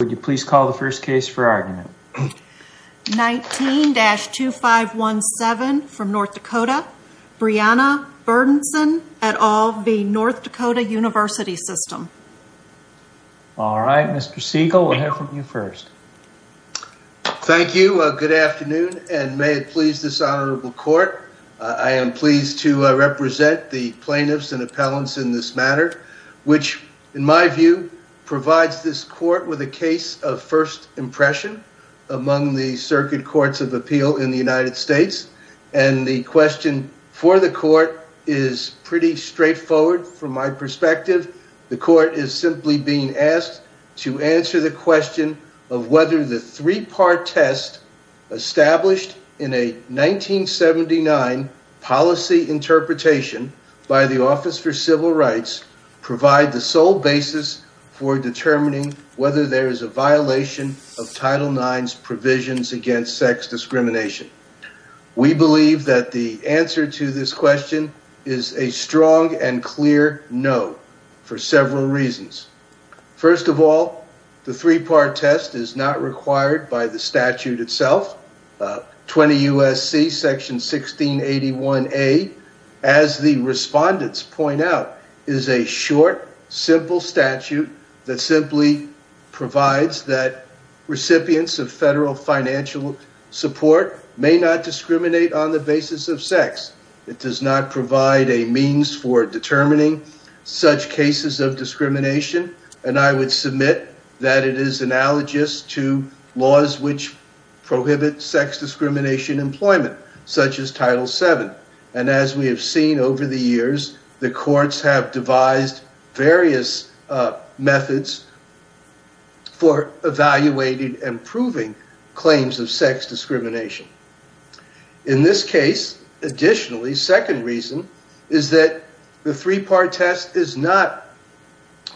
Would you please call the first case for argument? 19-2517 from North Dakota Breanna Berndsen et al v. North Dakota University System All right, Mr. Siegel, we'll hear from you first. Thank you, good afternoon and may it please this honorable court I am pleased to represent the plaintiffs and appellants in this matter which in my view provides this court with a case of first impression among the circuit courts of appeal in the United States and the question for the court is pretty straightforward from my perspective the court is simply being asked to answer the question of whether the three-part test established in a 1979 policy interpretation by the office for civil rights provide the sole basis for determining whether there is a violation of Title IX's provisions against sex discrimination we believe that the answer to this question is a strong and clear no for several reasons first of all the three-part test is not required by the statute itself 20 U.S.C. section 1681A as the respondents point out is a short simple statute that simply provides that recipients of federal financial support may not discriminate on the basis of sex it does not provide a means for determining such cases of discrimination and I would submit that it is analogous to laws which prohibit sex discrimination employment such as Title VII and as we have seen over the years the courts have devised various methods for evaluating and proving claims of sex discrimination in this case additionally second reason is that the three-part test is not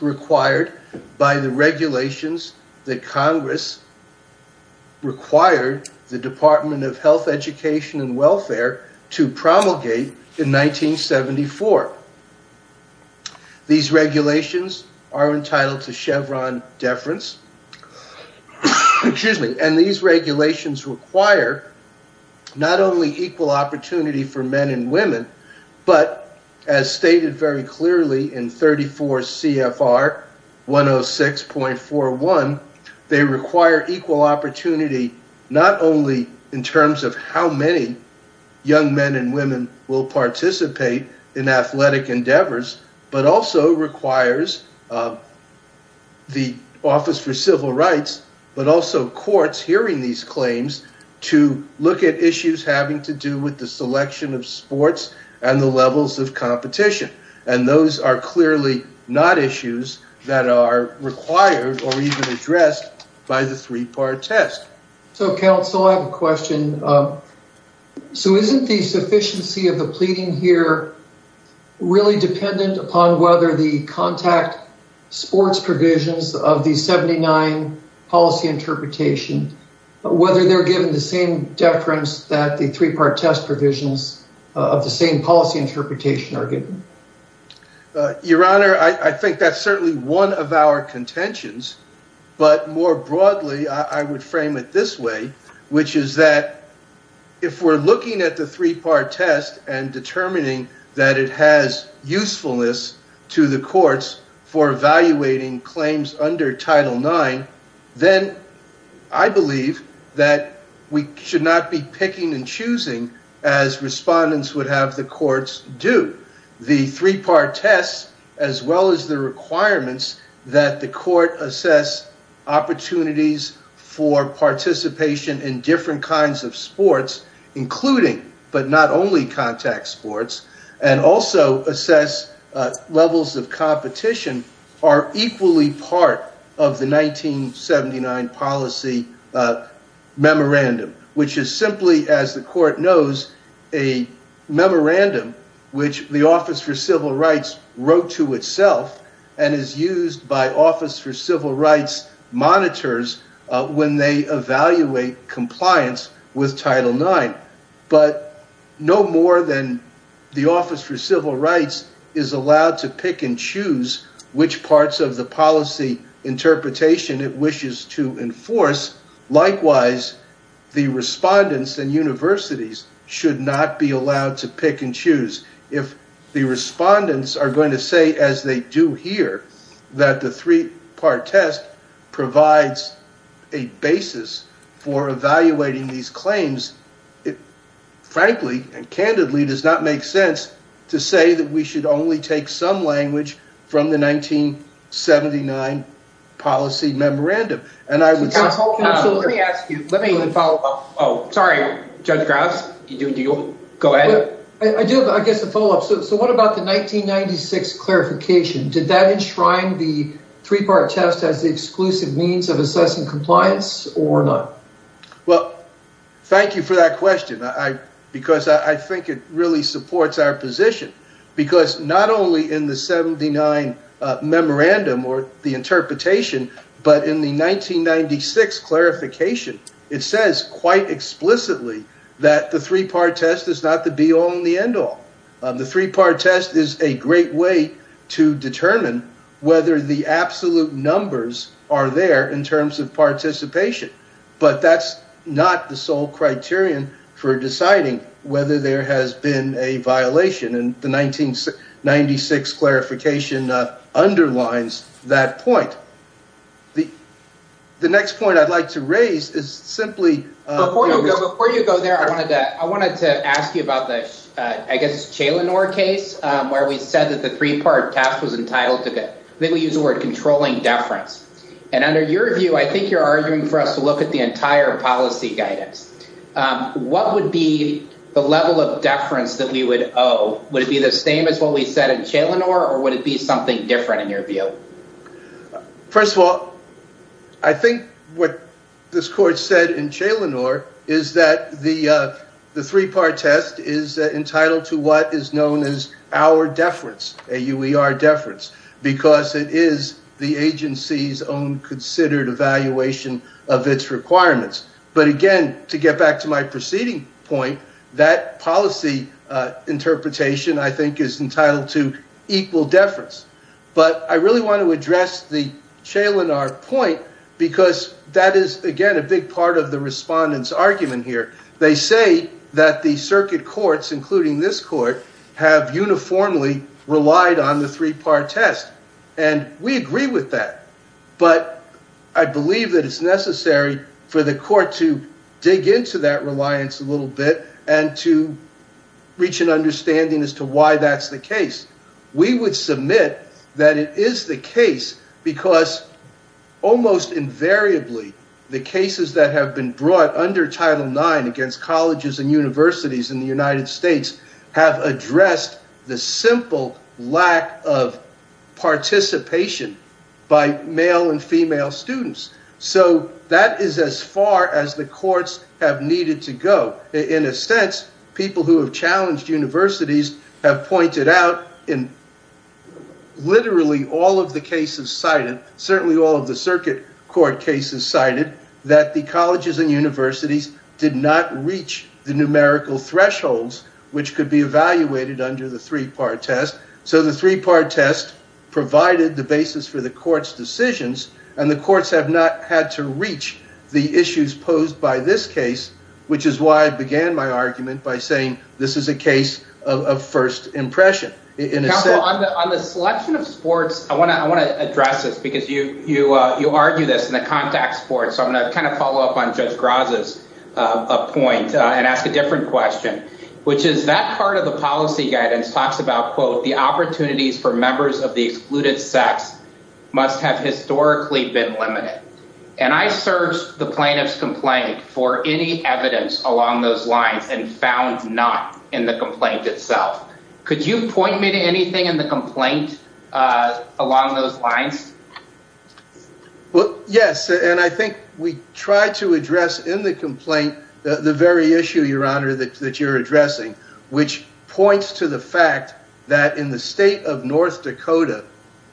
required by the regulations that congress required the department of health education and welfare to promulgate in 1974 these regulations are entitled to chevron deference and these regulations require not only equal opportunity for men and women but as stated very clearly in 34 CFR 106.41 they require equal opportunity not only in terms of how many young men and women will participate in athletic endeavors but also requires the office for civil rights but also courts hearing these claims to look at issues having to do with the selection of sports and the levels of competition and those are clearly not issues that are required or even addressed by the three-part test so counsel I have a question so isn't the sufficiency of the pleading here really dependent upon whether the contact sports provisions of the 79 policy interpretation whether they're given the same deference that the three-part test provisions of the same policy interpretation are given your honor I think that's certainly one of our contentions but more broadly I would frame it this way which is that if we're looking at the three-part test and determining that it has usefulness to the courts for evaluating claims under title nine I believe we should not be picking and choosing as respondents would have the courts do the three-part test as well as the requirements that the court assess opportunities for participation in different kinds of sports including but not only contact sports and also assess levels of competition are equally part of the 1979 policy memorandum which is simply as the court knows a memorandum which the office for civil rights wrote to itself and is used by office for civil rights monitors when they evaluate compliance with title nine no more than the office for civil rights is allowed to pick and choose which parts of the policy interpretation it wishes to enforce likewise the respondents and universities should not be allowed to pick and choose if the respondents are going to say as they do here that the three-part test provides a basis for evaluating these claims it frankly and candidly does not make sense to say that we should only take some language from the 1979 policy memorandum and I would say hold on let me ask you let me follow up oh sorry judge Graves you do you go ahead I do I guess a follow up so what about the 1996 clarification did that enshrine the three-part test as the exclusive means of assessing compliance or not well thank you for that question because I think it really supports our position because not only in the 79 memorandum or the interpretation but in the 1996 clarification it says quite explicitly that the three-part test is not the be all and the end all the three-part test is a great way to determine whether the absolute numbers are there in terms of participation but that's not the sole criterion for deciding whether there has been a violation and the 1996 clarification underlines that point the next point I'd like to raise is simply before you go there I wanted to I wanted to ask you about the I guess Chaylinor case where we said that the three-part test was entitled to I think we used the word controlling deference and under your view I think you're arguing for us to look at the entire policy guidance what would be the level of deference that we would owe would it be the same as what we said in Chaylinor or would it be something different in your view first of all I think what this court said in Chaylinor is that the the three-part test is entitled to what is known as our deference A-U-E-R deference because it is the agency's own considered evaluation of its requirements but again to get back to my preceding point that policy interpretation I think is entitled to equal deference but I really want to address the Chaylinor point because that is again a big part of the respondent's argument here they say that the circuit courts including this court have uniformly relied on the three-part test and we agree with that but I believe that it's necessary for the court to dig into that reliance a little bit and to reach an understanding as to why that's the case we would submit that it is the case because almost invariably the cases that have been brought under Title IX against colleges and universities in the United States have addressed the simple lack of participation by male and female students so that is as far as the courts have needed to go in a sense people who have challenged universities have pointed out in literally all of the cases cited certainly all of the circuit court cases cited that the colleges and universities did not reach the numerical thresholds which could be evaluated under the three-part test so the three-part test provided the basis for the court's decisions and the courts have not had to reach the issues posed by this case which is why I began my argument by saying this is a case of first impression counsel on the selection of sports I want to address this because you argue this in the contact sports so I'm going to kind of follow up on Judge Graza's point and ask a different question which is that part of the policy guidance talks about quote the opportunities for members of the excluded sex must have historically been limited and I searched the plaintiff's complaint for any evidence along those lines and found none in the complaint itself could you point me to anything in the complaint along those lines? well yes and I think we tried to address in the complaint the very issue your honor that you're addressing which points to the fact that in the state of North Dakota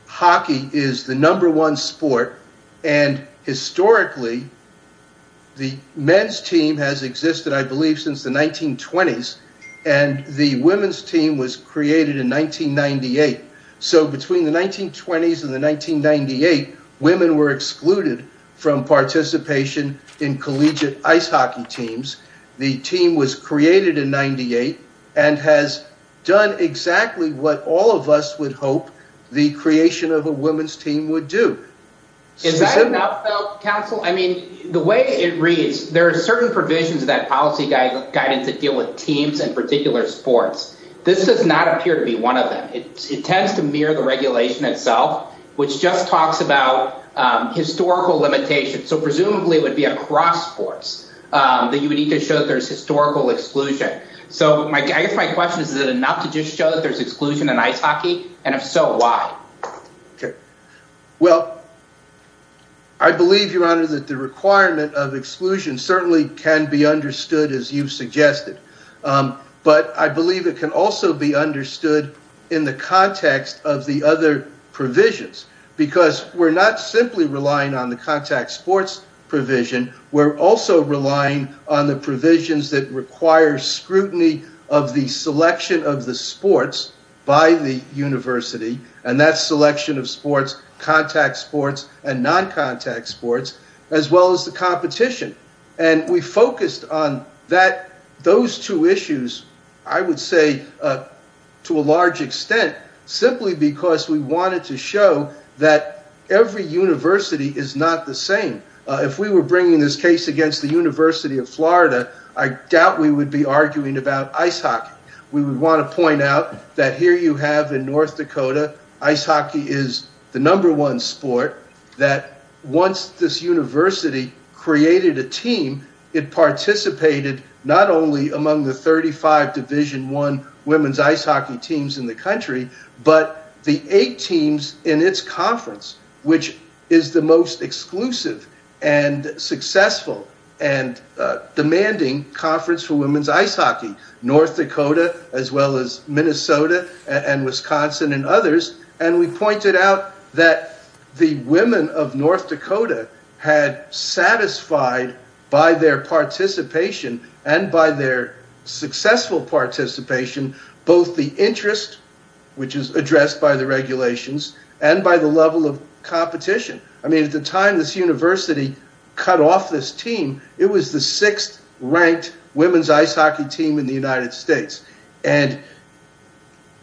hockey is the number one sport and historically the men's team has existed I believe since the 1920s and the women's team was created in 1998 so between the 1920s and the 1998 women were excluded from participation in collegiate ice hockey teams the team was created in 98 and has done exactly what all of us would hope the creation of a women's team would do is that enough counsel? I mean the way it reads there are certain provisions of that policy guidance and to deal with teams in particular sports this does not appear to be one of them it tends to mirror the regulation itself which just talks about historical limitations so presumably it would be across sports that you would need to show that there's historical exclusion so I guess my question is is it enough to just show that there's exclusion in ice hockey and if so why? okay well I believe your honor that the requirement of exclusion certainly can be understood as you've suggested but I believe it can also be understood in the context of the other provisions because we're not simply relying on the contact sports provision we're also relying on the provisions that require scrutiny of the selection of the sports by the university and that's selection of sports contact sports and non-contact sports as well as the competition and we focused on those two issues I would say to a large extent simply because we wanted to show that every university is not the same if we were bringing this case against the University of Florida I doubt we would be arguing about ice hockey we would want to point out that here you have in North Dakota ice hockey is the number one sport that once this university created a team it participated not only among the 35 division one women's ice hockey teams in the country but the eight teams in its conference which is the most exclusive and successful and demanding conference for women's ice hockey North Dakota as well as Minnesota and Wisconsin and others and we pointed out that the women of North Dakota had satisfied by their participation and by their successful participation both the interest which is addressed by the regulations and by the level of competition I mean at the time this university cut off this team it was the sixth ranked women's ice hockey team in the United States and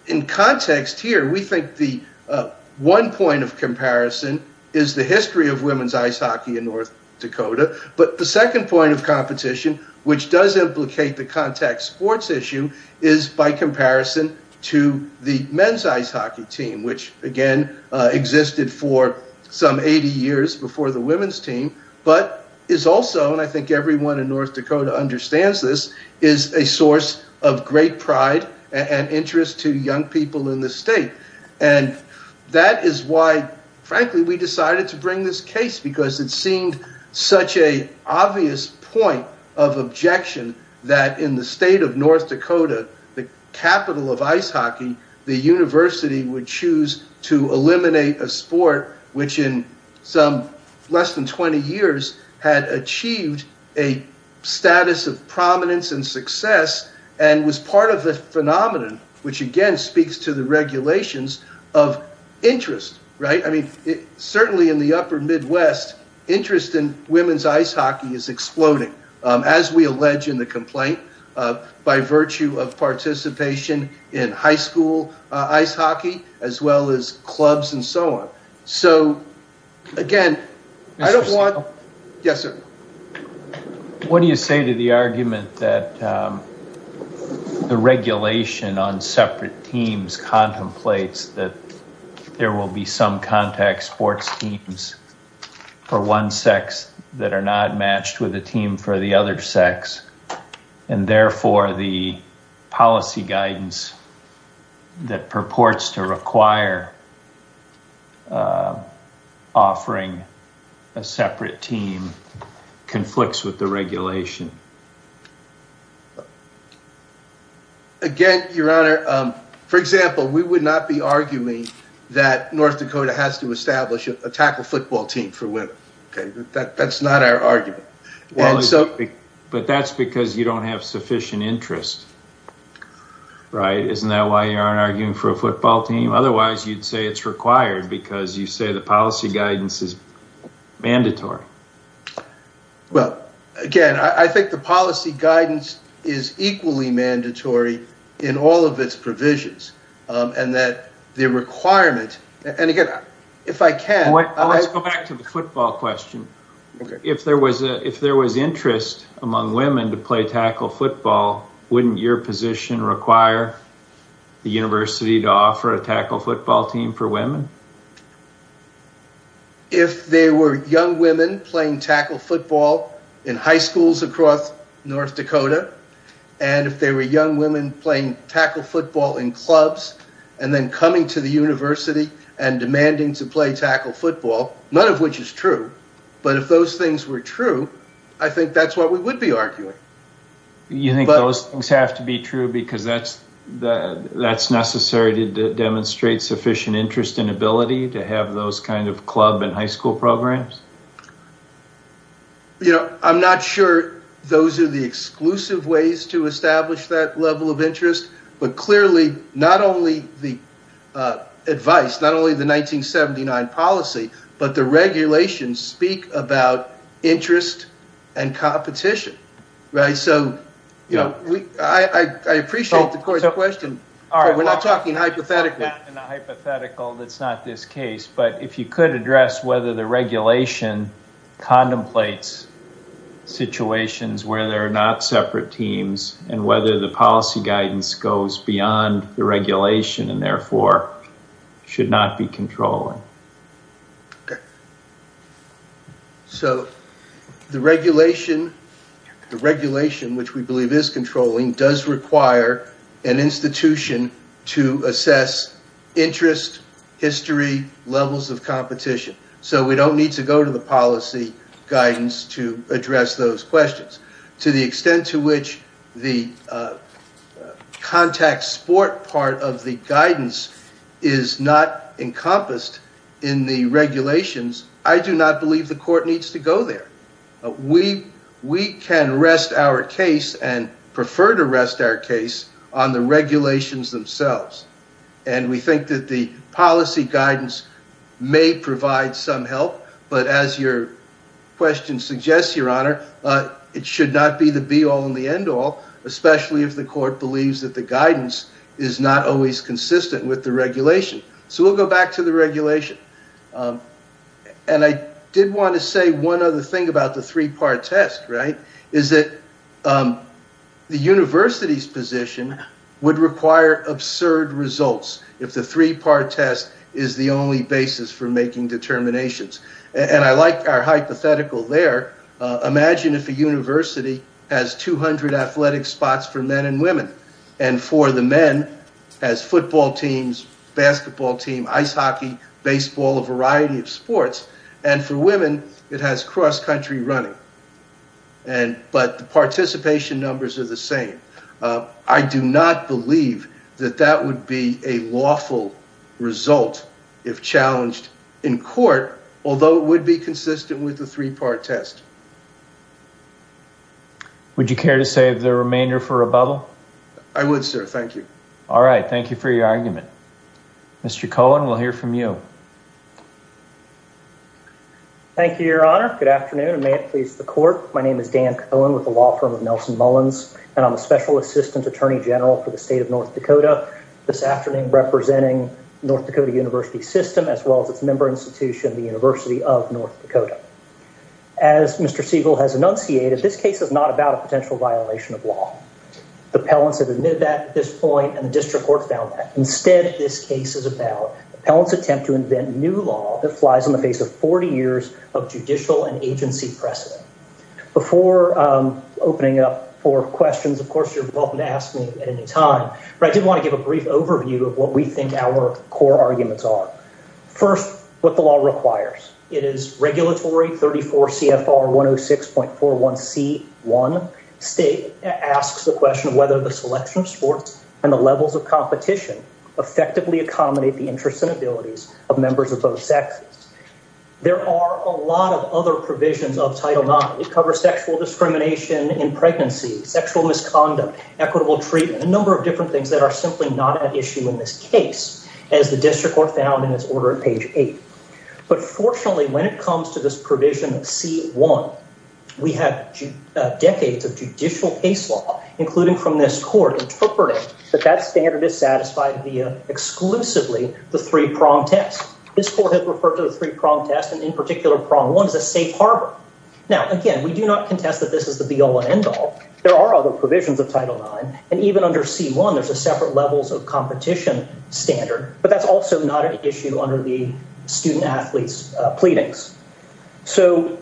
in context here we think the one point of comparison is the history of women's ice hockey in North Dakota but the second point of competition which does implicate the contact sports issue is by comparison to the men's ice hockey team which again existed for some 80 years before the women's team but is also and I think everyone in North Dakota understands this is a source of great pride and interest to young people in the state and that is why frankly we decided to bring this case because it seemed such a obvious point of objection that in the state of North Dakota the capital of ice hockey the university would choose to eliminate a sport which in some less than 20 years had achieved a status of prominence and success and was part of the phenomenon which again speaks to the regulations of interest, right? I mean, certainly in the upper Midwest interest in women's ice hockey is exploding as we allege in the complaint by virtue of participation in high school ice hockey as well as clubs and so on. So again, I don't want... Yes, sir. What do you say to the argument that the regulation on separate teams contemplates that there will be some contact sports teams for one sex that are not matched with a team for the other sex and therefore the policy guidance that purports to require offering a separate team conflicts with the regulation? Again, your honor, for example, we would not be arguing that North Dakota has to establish a tackle football team for women, okay? That's not our argument. But that's because you don't have sufficient interest, right? Isn't that why you aren't arguing for a football team? Otherwise you'd say it's required because you say the policy guidance is mandatory. Well, again, I think the policy guidance is equally mandatory in all of its provisions and that the requirement... And again, if I can... Let's go back to the football question. If there was interest among women to play tackle football, wouldn't your position require the university to offer a tackle football team for women? If there were young women playing tackle football in high schools across North Dakota and if there were young women playing tackle football in clubs and then coming to the university and demanding to play tackle football, none of which is true, but if those things were true, I think that's what we would be arguing. You think those things have to be true because that's necessary to demonstrate sufficient interest and ability to have those kinds of club and high school programs? I'm not sure those are the exclusive ways to establish that level of interest, but clearly not only the advice, not only the 1979 policy, but the regulations speak about interest and competition. So I appreciate the question, but we're not talking hypothetically. Not in a hypothetical, that's not this case, but if you could address whether the regulation contemplates situations where there are not separate teams and whether the policy guidance goes beyond the regulation and therefore should not be controlling. Okay. So the regulation, the regulation which we believe is controlling does require an institution to assess interest, history, levels of competition. So we don't need to go to the policy guidance to address those questions. To the extent to which the contact sport part of the guidance is not encompassed in the regulations, I do not believe the court needs to go there. We can rest our case and prefer to rest our case on the regulations themselves. And we think that the policy guidance may provide some help, but as your question suggests, your honor, it should not be the be all and the end all, especially if the court believes that the guidance is not always consistent with the regulation. So we'll go back to the regulation. And I did want to say one other thing about the three-part test, right? Is that the university's position would require absurd results if the three-part test is the only basis for making determinations. And I like our hypothetical there. Imagine if a university has 200 athletic spots for men and women. And for the men, has football teams, basketball team, ice hockey, baseball, a variety of sports. And for women, it has cross-country running. But the participation numbers are the same. I do not believe that that would be a lawful result if challenged in court, although it would be consistent with the three-part test. Would you care to save the remainder for rebuttal? I would, sir. Thank you. All right. Thank you for your argument. Mr. Cohen, we'll hear from you. Thank you, your honor. Good afternoon. And may it please the court. My name is Dan Cohen with the law firm of Nelson Mullins, and I'm a special assistant attorney general for the state of North Dakota. This afternoon, representing North Dakota University System as well as its member institution, the University of North Dakota. As Mr. Siegel has enunciated, this case is not about a potential violation of law. The appellants have admitted that at this point, and the district court found that. Instead, this case is about the appellant's attempt to invent new law that flies in the face of 40 years of judicial and agency precedent. Before opening up for questions, of course, you're welcome to ask me at any time, but I did want to give a brief overview of what we think our core arguments are. First, what the law requires. It is regulatory, 34 CFR 106.41C1. State asks the question of whether the selection of sports and the levels of competition effectively accommodate the interests and abilities of members of both sexes. There are a lot of other provisions of Title IX. It covers sexual discrimination in pregnancy, sexual misconduct, equitable treatment, a number of different things that are simply not at issue in this case, as the district court found in its order at page eight. But fortunately, when it comes to this provision of C1, we have decades of judicial case law, including from this court, interpreting that that standard is satisfied via exclusively the three-prong test. This court has referred to the three-prong test, and in particular, prong one, as a safe harbor. Now, again, we do not contest that this is the be-all and end-all. There are other provisions of Title IX, and even under C1, there's a separate levels of competition standard, but that's also not an issue under the student-athletes' pleadings. So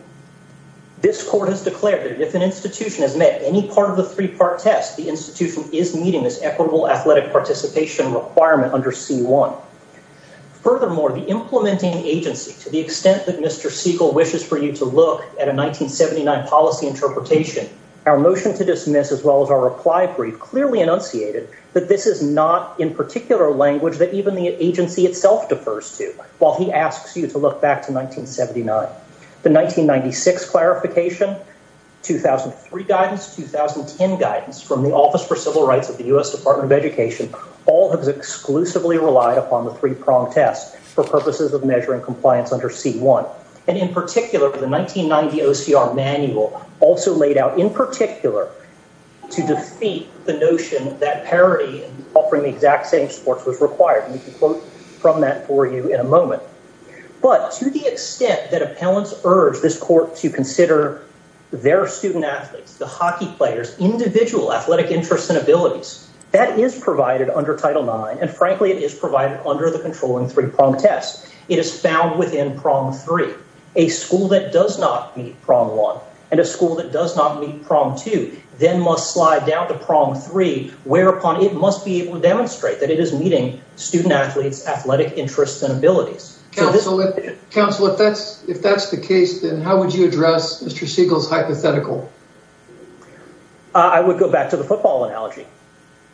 this court has declared that if an institution has met any part of the three-part test, the institution is meeting this equitable athletic participation requirement under C1. Furthermore, the implementing agency, to the extent that Mr. Siegel wishes for you to look at a 1979 policy interpretation, our motion to dismiss, as well as our reply brief, clearly enunciated that this is not, in particular language, that even the agency itself defers to, while he asks you to look back to 1979. The 1996 clarification, 2003 guidance, 2010 guidance from the Office for Civil Rights of the US Department of Education, all have exclusively relied upon the three-prong test for purposes of measuring compliance under C1. And in particular, the 1990 OCR manual also laid out, in particular, to defeat the notion that parity and offering the exact same sports was required. And we can quote from that for you in a moment. But to the extent that appellants urge this court to consider their student-athletes, the hockey players, individual athletic interests and abilities, that is provided under Title IX. And frankly, it is provided under the controlling three-prong test. It is found within prong three. A school that does not meet prong one, and a school that does not meet prong two, then must slide down to prong three, whereupon it must be able to demonstrate that it is meeting student-athletes' athletic interests and abilities. Council, if that's the case, then how would you address Mr. Siegel's hypothetical? I would go back to the football analogy.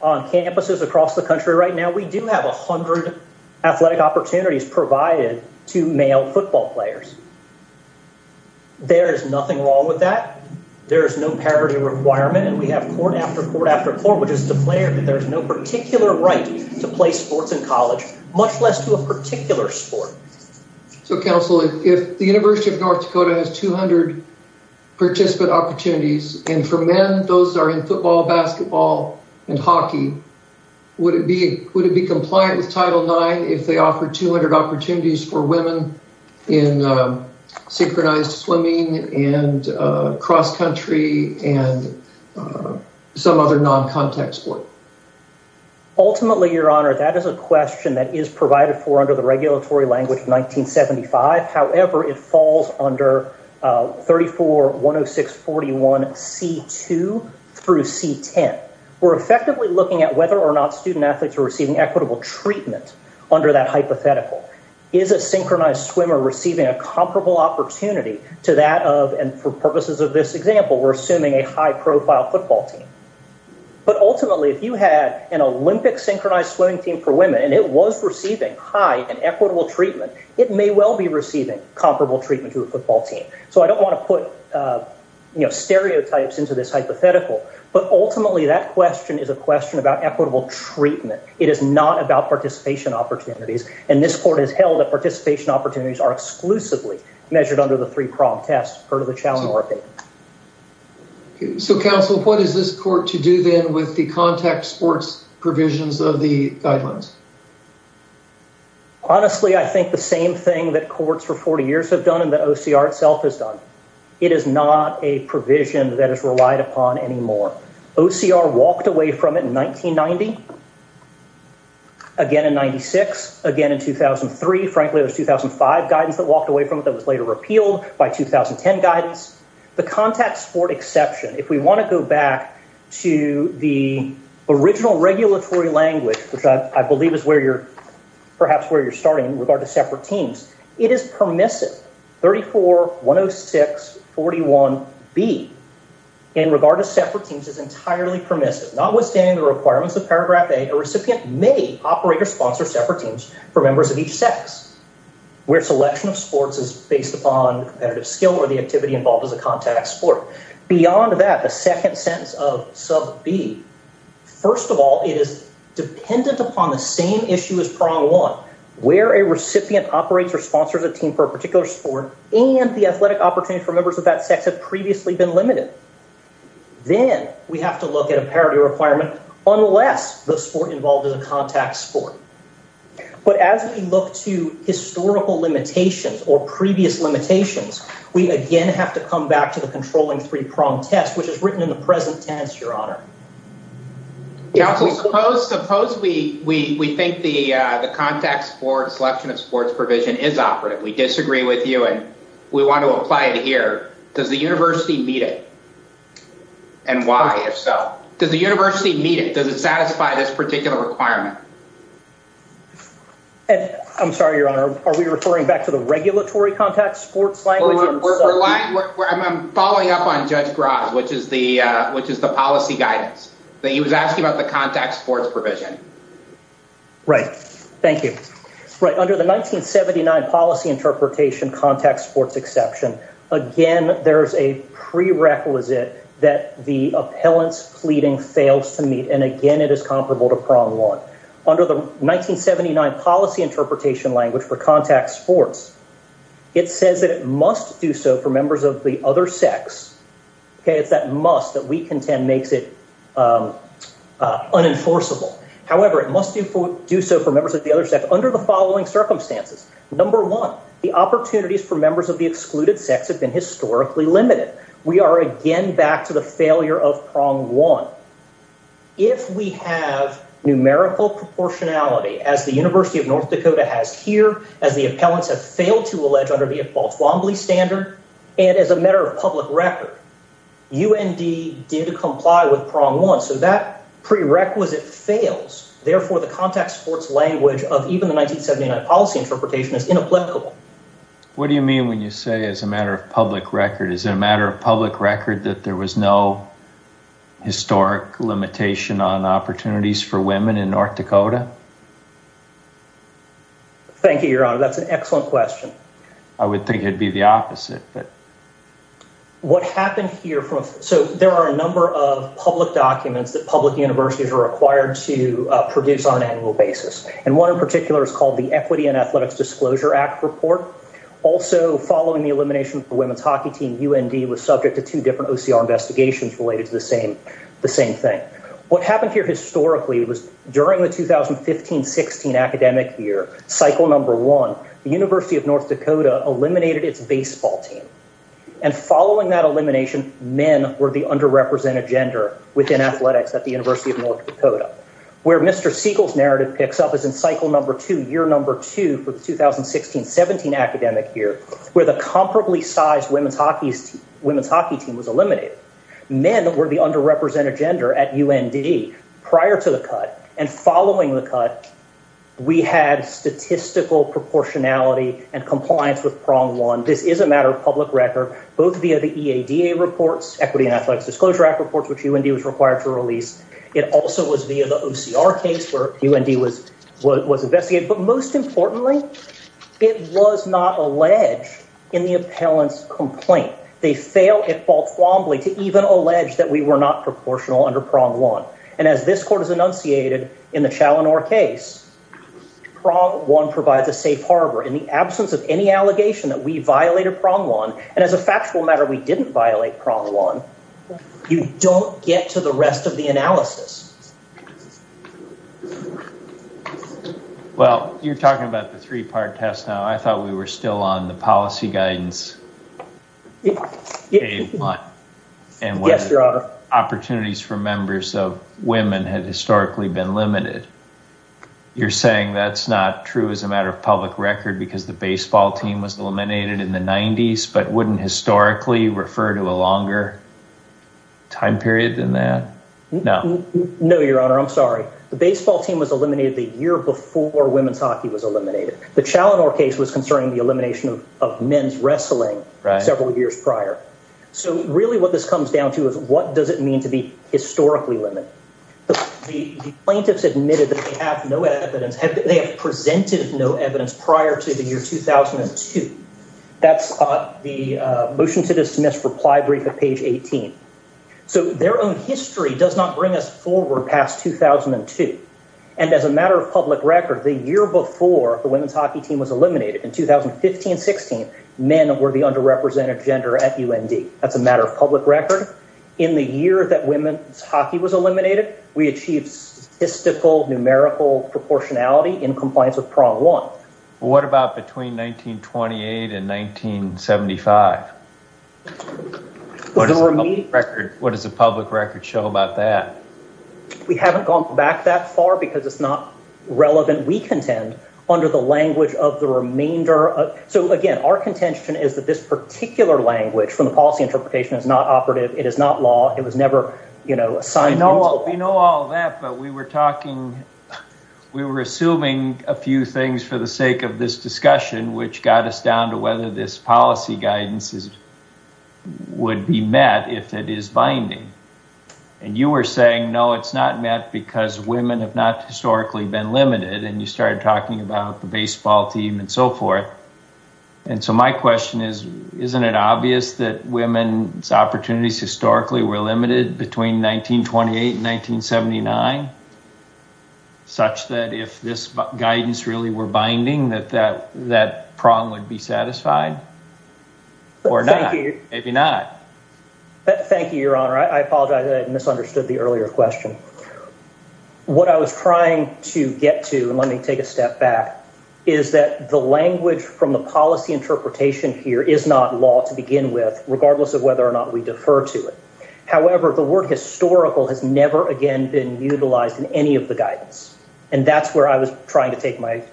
On campuses across the country right now, we do have 100 athletic opportunities provided to male football players. There is nothing wrong with that. There is no parity requirement, and we have court after court after court, which is to declare that there is no particular right to play sports in college, much less to a particular sport. So, Council, if the University of North Dakota has 200 participant opportunities, and for men, those are in football, basketball, and hockey, would it be compliant with Title IX if they offer 200 opportunities for women in synchronized swimming and cross-country and some other non-contact sport? Ultimately, Your Honor, that is a question that is provided for under the regulatory language of 1975. However, it falls under 34-106-41-C-2 through C-10. We're effectively looking at whether or not student-athletes are receiving equitable treatment under that hypothetical. Is a synchronized swimmer receiving a comparable opportunity to that of, and for purposes of this example, we're assuming a high-profile football team. But ultimately, if you had an Olympic synchronized swimming team for women, and it was receiving high and equitable treatment, it may well be receiving comparable treatment to a football team. So I don't want to put stereotypes into this hypothetical, but ultimately, that question is a question about equitable treatment. It is not about participation opportunities. And this court has held that participation opportunities are exclusively measured under the three-pronged test per the challenge bar paper. So counsel, what is this court to do then with the contact sports provisions of the guidelines? Honestly, I think the same thing that courts for 40 years have done and that OCR itself has done. It is not a provision that is relied upon anymore. OCR walked away from it in 1990. Again in 96, again in 2003, frankly it was 2005 guidance that walked away from it that was later repealed by 2010 guidance. The contact sport exception, if we want to go back to the original regulatory language, which I believe is where you're, perhaps where you're starting in regard to separate teams, it is permissive. 34-106-41-B in regard to separate teams is entirely permissive, notwithstanding the requirements of paragraph A, a recipient may operate or sponsor separate teams for members of each sex, where selection of sports is based upon competitive skill or the activity involved as a contact sport. Beyond that, the second sentence of sub B, first of all, it is dependent upon the same issue as prong one, where a recipient operates or sponsors a team for a particular sport and the athletic opportunity for members of that sex have previously been limited. Then we have to look at a parity requirement unless the sport involved is a contact sport. But as we look to historical limitations or previous limitations, we again have to come back to the controlling three-prong test, which is written in the present tense, your honor. Yeah, so suppose we think the contact sport selection of sports provision is operative. We disagree with you and we want to apply it here. Does the university meet it? And why, if so? Does the university meet it? Does it satisfy this particular requirement? And I'm sorry, your honor, are we referring back to the regulatory contact sports language? We're relying, I'm following up on Judge Graz, which is the policy guidance. That he was asking about the contact sports provision. Right, thank you. Right, under the 1979 policy interpretation contact sports exception, again, there's a prerequisite that the appellant's pleading fails to meet. And again, it is comparable to prong one. Under the 1979 policy interpretation language for contact sports, it says that it must do so for members of the other sex. Okay, it's that must that we contend makes it unenforceable. However, it must do so for members of the other sex under the following circumstances. Number one, the opportunities for members of the excluded sex have been historically limited. We are again back to the failure of prong one. If we have numerical proportionality as the University of North Dakota has here, as the appellants have failed to allege under the Paul Twombly standard, and as a matter of public record, UND did comply with prong one. So that prerequisite fails. Therefore, the contact sports language of even the 1979 policy interpretation is inapplicable. What do you mean when you say as a matter of public record, is it a matter of public record that there was no historic limitation on opportunities for women in North Dakota? Thank you, your honor. That's an excellent question. I would think it'd be the opposite, but. What happened here from, so there are a number of public documents that public universities are required to produce on an annual basis. And one in particular is called the Equity and Athletics Disclosure Act Report. Also following the elimination of the women's hockey team, UND was subject to two different OCR investigations related to the same thing. What happened here historically was during the 2015-16 academic year, cycle number one, the University of North Dakota eliminated its baseball team. And following that elimination, men were the underrepresented gender within athletics at the University of North Dakota. Where Mr. Siegel's narrative picks up is in cycle number two, year number two for the 2016-17 academic year, where the comparably sized women's hockey team was eliminated. Men were the underrepresented gender at UND prior to the cut. And following the cut, we had statistical proportionality and compliance with prong one. This is a matter of public record, both via the EADA reports, Equity and Athletics Disclosure Act reports, which UND was required to release. It also was via the OCR case where UND was investigated. But most importantly, it was not alleged in the appellant's complaint. They fail at baltwombly to even allege that we were not proportional under prong one. And as this court has enunciated in the Chaloner case, prong one provides a safe harbor. In the absence of any allegation that we violated prong one, and as a factual matter, we didn't violate prong one, you don't get to the rest of the analysis. Well, you're talking about the three-part test now. I thought we were still on the policy guidance. Yes, Your Honor. And what opportunities for members of women had historically been limited. You're saying that's not true as a matter of public record because the baseball team was eliminated in the 90s, but wouldn't historically refer to a longer time period than that? No. No. No, Your Honor, I'm sorry. The baseball team was eliminated the year before women's hockey was eliminated. The Chaloner case was concerning the elimination of men's wrestling several years prior. So really what this comes down to is what does it mean to be historically limited? The plaintiffs admitted that they have no evidence, they have presented no evidence prior to the year 2002. That's the motion to dismiss reply brief at page 18. So their own history does not bring us forward past 2002. And as a matter of public record, the year before the women's hockey team was eliminated in 2015, 16, men were the underrepresented gender at UND. That's a matter of public record. In the year that women's hockey was eliminated, we achieved statistical numerical proportionality in compliance with prong one. What about between 1928 and 1975? What does the public record show about that? We haven't gone back that far because it's not relevant. We contend under the language of the remainder of, so again, our contention is that this particular language from the policy interpretation is not operative. It is not law. It was never, you know, signed into law. We know all that, but we were talking, we were assuming a few things for the sake of this discussion, which got us down to whether this policy guidance would be met if it is binding. And you were saying, no, it's not met because women have not historically been limited. And you started talking about the baseball team and so forth. And so my question is, isn't it obvious that women's opportunities historically were limited between 1928 and 1979, such that if this guidance really were binding, that that prong would be satisfied? Or not, maybe not. Thank you, your honor. I apologize, I misunderstood the earlier question. What I was trying to get to, and let me take a step back, is that the language from the policy interpretation here is not law to begin with, regardless of whether or not we defer to it. However, the word historical has never again been utilized in any of the guidance. And that's where I was trying to take my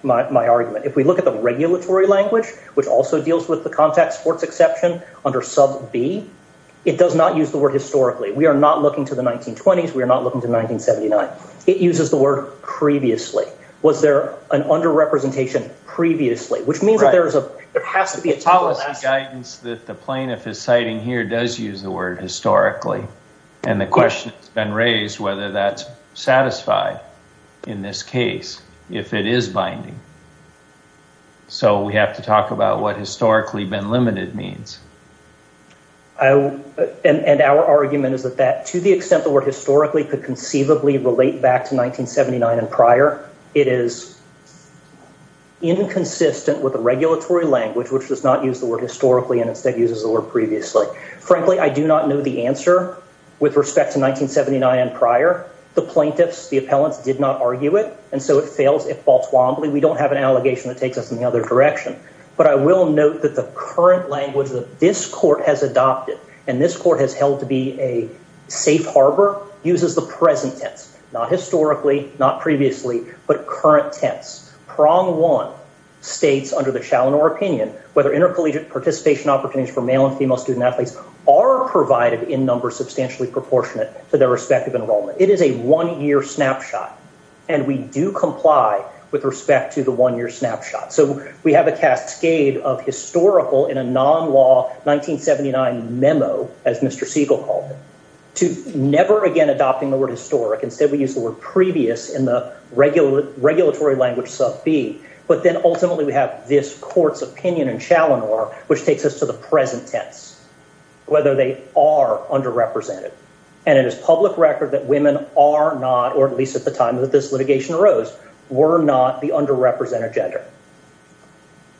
argument. If we look at the regulatory language, which also deals with the contact sports exception under sub B, it does not use the word historically. We are not looking to the 1920s. We are not looking to 1979. It uses the word previously. Was there an under-representation previously? Which means that there has to be a- Policy guidance that the plaintiff is citing here does use the word historically. And the question has been raised whether that's satisfied in this case, if it is binding. So we have to talk about what historically been limited means. And our argument is that to the extent the word historically could conceivably relate back to 1979 and prior, it is inconsistent with the regulatory language, which does not use the word historically and instead uses the word previously. Frankly, I do not know the answer with respect to 1979 and prior. The plaintiffs, the appellants did not argue it. And so it fails at Baltwombly. We don't have an allegation that takes us in the other direction. But I will note that the current language that this court has adopted and this court has held to be a safe harbor uses the present tense. Not historically, not previously, but current tense. Prong one states under the Shalinor opinion, whether intercollegiate participation opportunities for male and female student athletes are provided in numbers substantially proportionate to their respective enrollment. It is a one-year snapshot. And we do comply with respect to the one-year snapshot. So we have a cascade of historical in a non-law 1979 memo, as Mr. Siegel called it, to never again adopting the word historic. Instead, we use the word previous in the regulatory language sub B. But then ultimately we have this court's opinion in Shalinor, which takes us to the present tense, whether they are underrepresented. And it is public record that women are not, or at least at the time that this litigation arose, were not the underrepresented gender.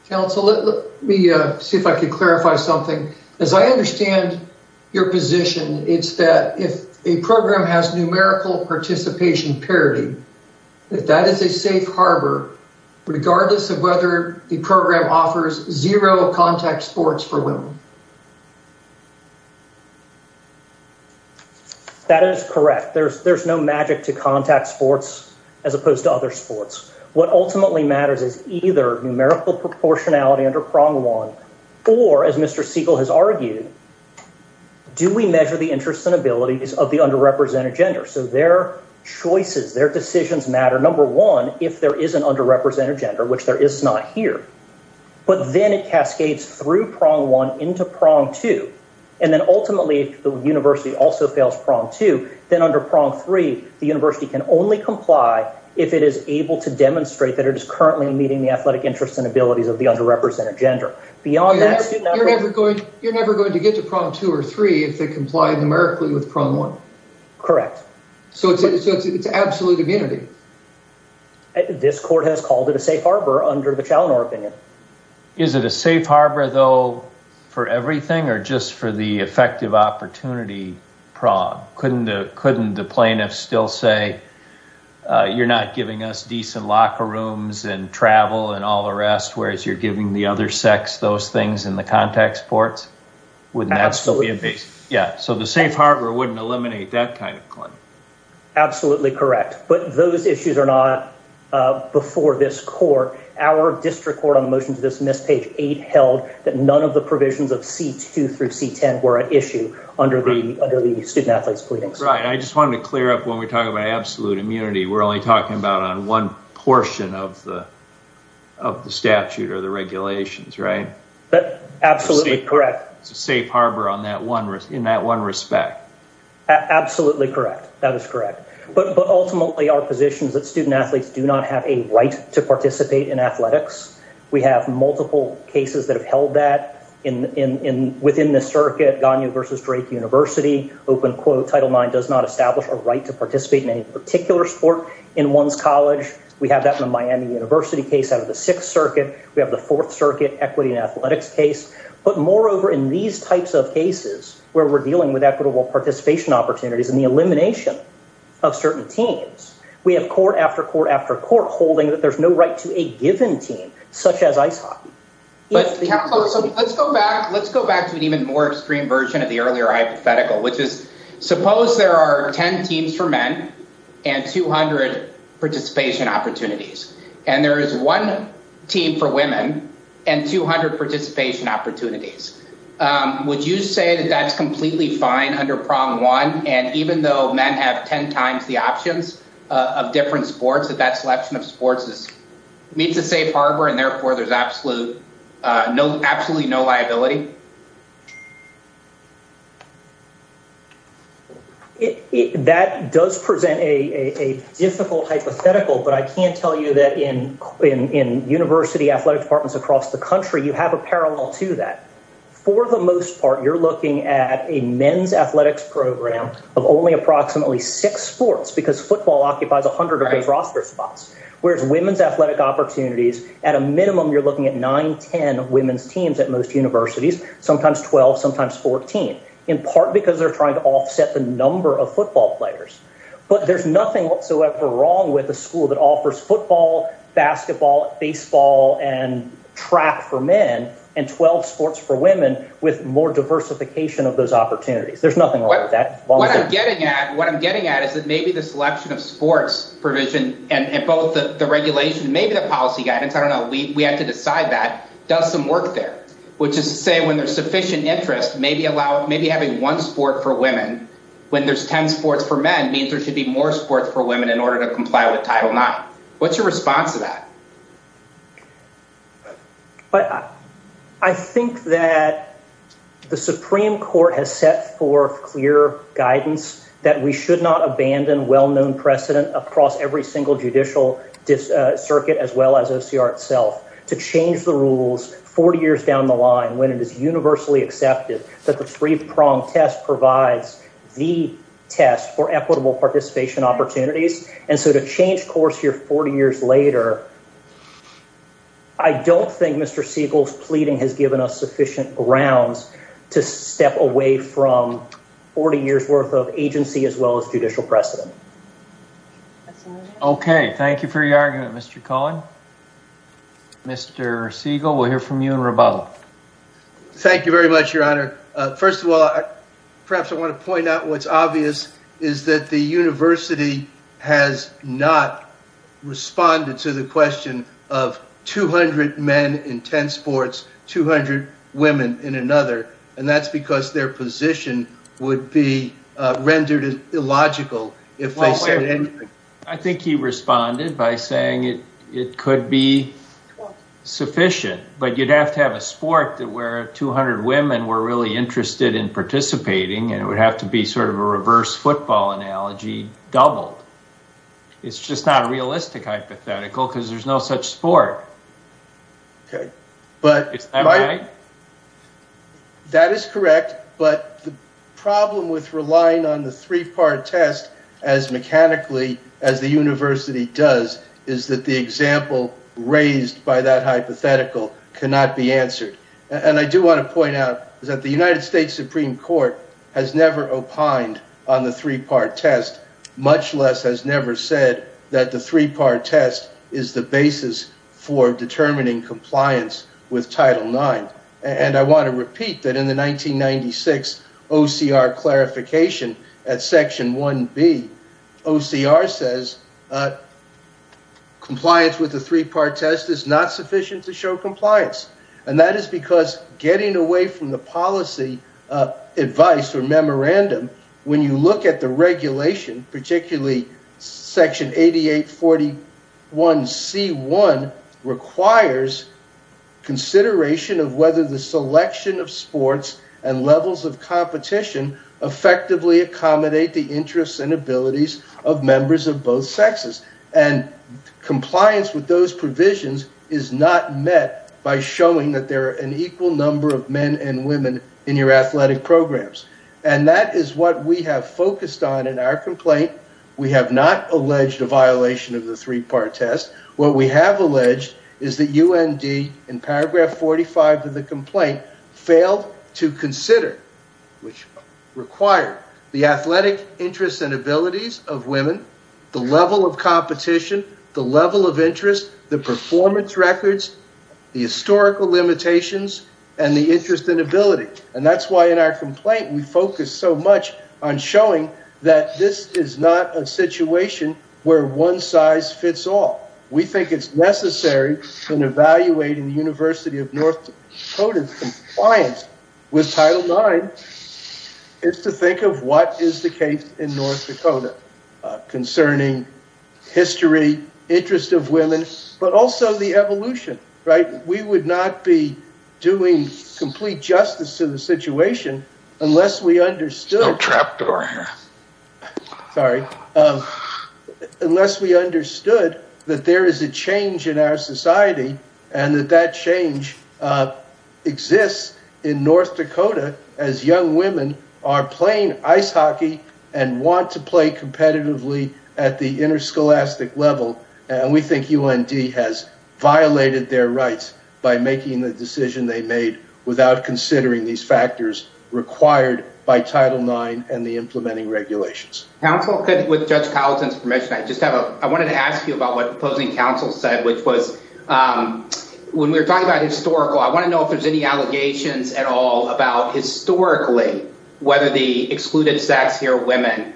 Council, let me see if I could clarify something. As I understand your position, it's that if a program has numerical participation parity, if that is a safe harbor, regardless of whether the program offers zero contact sports for women. That is correct. There's no magic to contact sports as opposed to other sports. What ultimately matters is either numerical proportionality under prong one, or as Mr. Siegel has argued, do we measure the interests and abilities of the underrepresented gender? So their choices, their decisions matter. Number one, if there is an underrepresented gender, which there is not here, but then it cascades through prong one into prong two. And then ultimately the university also fails prong two, then under prong three, the university can only comply if it is able to demonstrate that it is currently meeting the athletic interests and abilities of the underrepresented gender. Beyond that- You're never going to get to prong two or three if they comply numerically with prong one. Correct. So it's absolute immunity. This court has called it a safe harbor under the Chaloner opinion. Is it a safe harbor though for everything or just for the effective opportunity prong? Couldn't the plaintiff still say, you're not giving us decent locker rooms and travel and all the rest, whereas you're giving the other sex those things in the contact sports? Wouldn't that still be a base? Yeah, so the safe harbor wouldn't eliminate that kind of claim. Absolutely correct. But those issues are not before this court. Our district court on the motion to dismiss page eight held that none of the provisions of C2 through C10 were an issue under the student athletes pleadings. Right, I just wanted to clear up when we talk about absolute immunity, we're only talking about on one portion of the statute or the regulations, right? Absolutely correct. It's a safe harbor in that one respect. Absolutely correct, that is correct. But ultimately our position is that student athletes do not have a right to participate in athletics. We have multiple cases that have held that within the circuit Ganya versus Drake University, open quote, title nine does not establish a right to participate in any particular sport in one's college. We have that in the Miami University case out of the sixth circuit. We have the fourth circuit equity and athletics case. But moreover, in these types of cases where we're dealing with equitable participation opportunities and the elimination of certain teams, we have court after court after court holding that there's no right to a given team, such as ice hockey. But let's go back to an even more extreme version of the earlier hypothetical, which is suppose there are 10 teams for men and 200 participation opportunities. And there is one team for women and 200 participation opportunities. Would you say that that's completely fine under prong one? And even though men have 10 times the options of different sports, that that selection of sports meets a safe harbor and therefore there's absolute, absolutely no liability? That does present a difficult hypothetical, but I can tell you that in university athletic departments across the country, you have a parallel to that. For the most part, you're looking at a men's athletics program of only approximately six sports because football occupies 100 of those roster spots. Whereas women's athletic opportunities, at a minimum, you're looking at nine, 10 women's teams at most universities, sometimes 12, sometimes 14, in part because they're trying to offset the number of football players. But there's nothing whatsoever wrong with a school that offers football, basketball, baseball, and track for men and 12 sports for women with more diversification of those opportunities. There's nothing wrong with that. What I'm getting at is that maybe the selection of sports provision and both the regulation, maybe the policy guidance, I don't know, we have to decide that, does some work there, which is to say when there's sufficient interest, maybe having one sport for women when there's 10 sports for men means there should be more sports for women in order to comply with Title IX. What's your response to that? I think that the Supreme Court has set forth clear guidance that we should not abandon well-known precedent across every single judicial circuit as well as OCR itself to change the rules 40 years down the line when it is universally accepted that the three-prong test provides the test for equitable participation opportunities. And so to change course here 40 years later, I don't think Mr. Siegel's pleading has given us sufficient grounds to step away from 40 years' worth of agency as well as judicial precedent. Okay, thank you for your argument, Mr. Cohen. Mr. Siegel, we'll hear from you in rebuttal. Thank you very much, Your Honor. First of all, perhaps I want to point out what's obvious is that the university has not responded to the question of 200 men in 10 sports, 200 women in another, and that's because their position would be rendered illogical if they said anything. I think he responded by saying it could be sufficient, but you'd have to have a sport that where 200 women were really interested in participating and it would have to be sort of a reverse football analogy doubled. It's just not a realistic hypothetical because there's no such sport. Okay, but- Am I- That is correct, but the problem with relying on the three-part test as mechanically as the university does is that the example raised by that hypothetical cannot be answered. And I do want to point out that the United States Supreme Court has never opined on the three-part test, much less has never said that the three-part test is the basis for determining compliance with Title IX. And I want to repeat that in the 1996 OCR clarification at Section 1B, OCR says, compliance with the three-part test is not sufficient to show compliance. And that is because getting away from the policy advice or memorandum, when you look at the regulation, particularly Section 8841C1 requires consideration of whether the selection of sports and levels of competition effectively accommodate the interests and abilities of members of both sexes. And compliance with those provisions is not met by showing that there are an equal number of men and women in your athletic programs. And that is what we have focused on in our complaint. We have not alleged a violation of the three-part test. What we have alleged is that UND in paragraph 45 of the complaint failed to consider, which required the athletic interests and abilities of women, the level of competition, the level of interest, the performance records, the historical limitations and the interest and ability. And that's why in our complaint, we focus so much on showing that this is not a situation where one size fits all. We think it's necessary in evaluating the University of North Dakota's compliance with Title IX is to think of what is the case in North Dakota concerning history, interest of women, but also the evolution, right? We would not be doing complete justice to the situation unless we understood. No trap door here. Sorry, unless we understood that there is a change in our society and that that change exists in North Dakota as young women are playing ice hockey and want to play competitively at the interscholastic level. And we think UND has violated their rights by making the decision they made without considering these factors required by Title IX and the implementing regulations. Council could, with Judge Powelson's permission, I just have a, I wanted to ask you about what opposing counsel said, which was when we were talking about historical, I want to know if there's any allegations at all about historically, whether the excluded sex here women,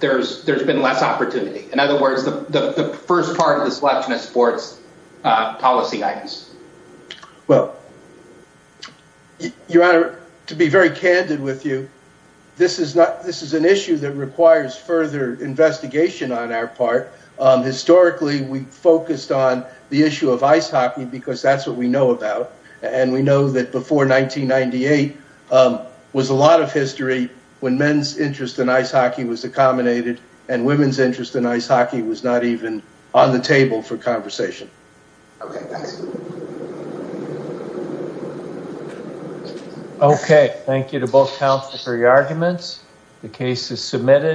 there's been less opportunity. In other words, the first part of the selection of sports policy items. Well, Your Honor, to be very candid with you, this is not, this is an issue that requires further investigation on our part. Historically, we focused on the issue of ice hockey because that's what we know about. And we know that before 1998 was a lot of history when men's interest in ice hockey was accommodated and women's interest in ice hockey was not even on the table for conversation. Okay, thanks. Okay, thank you to both counsel for your arguments. The case is submitted.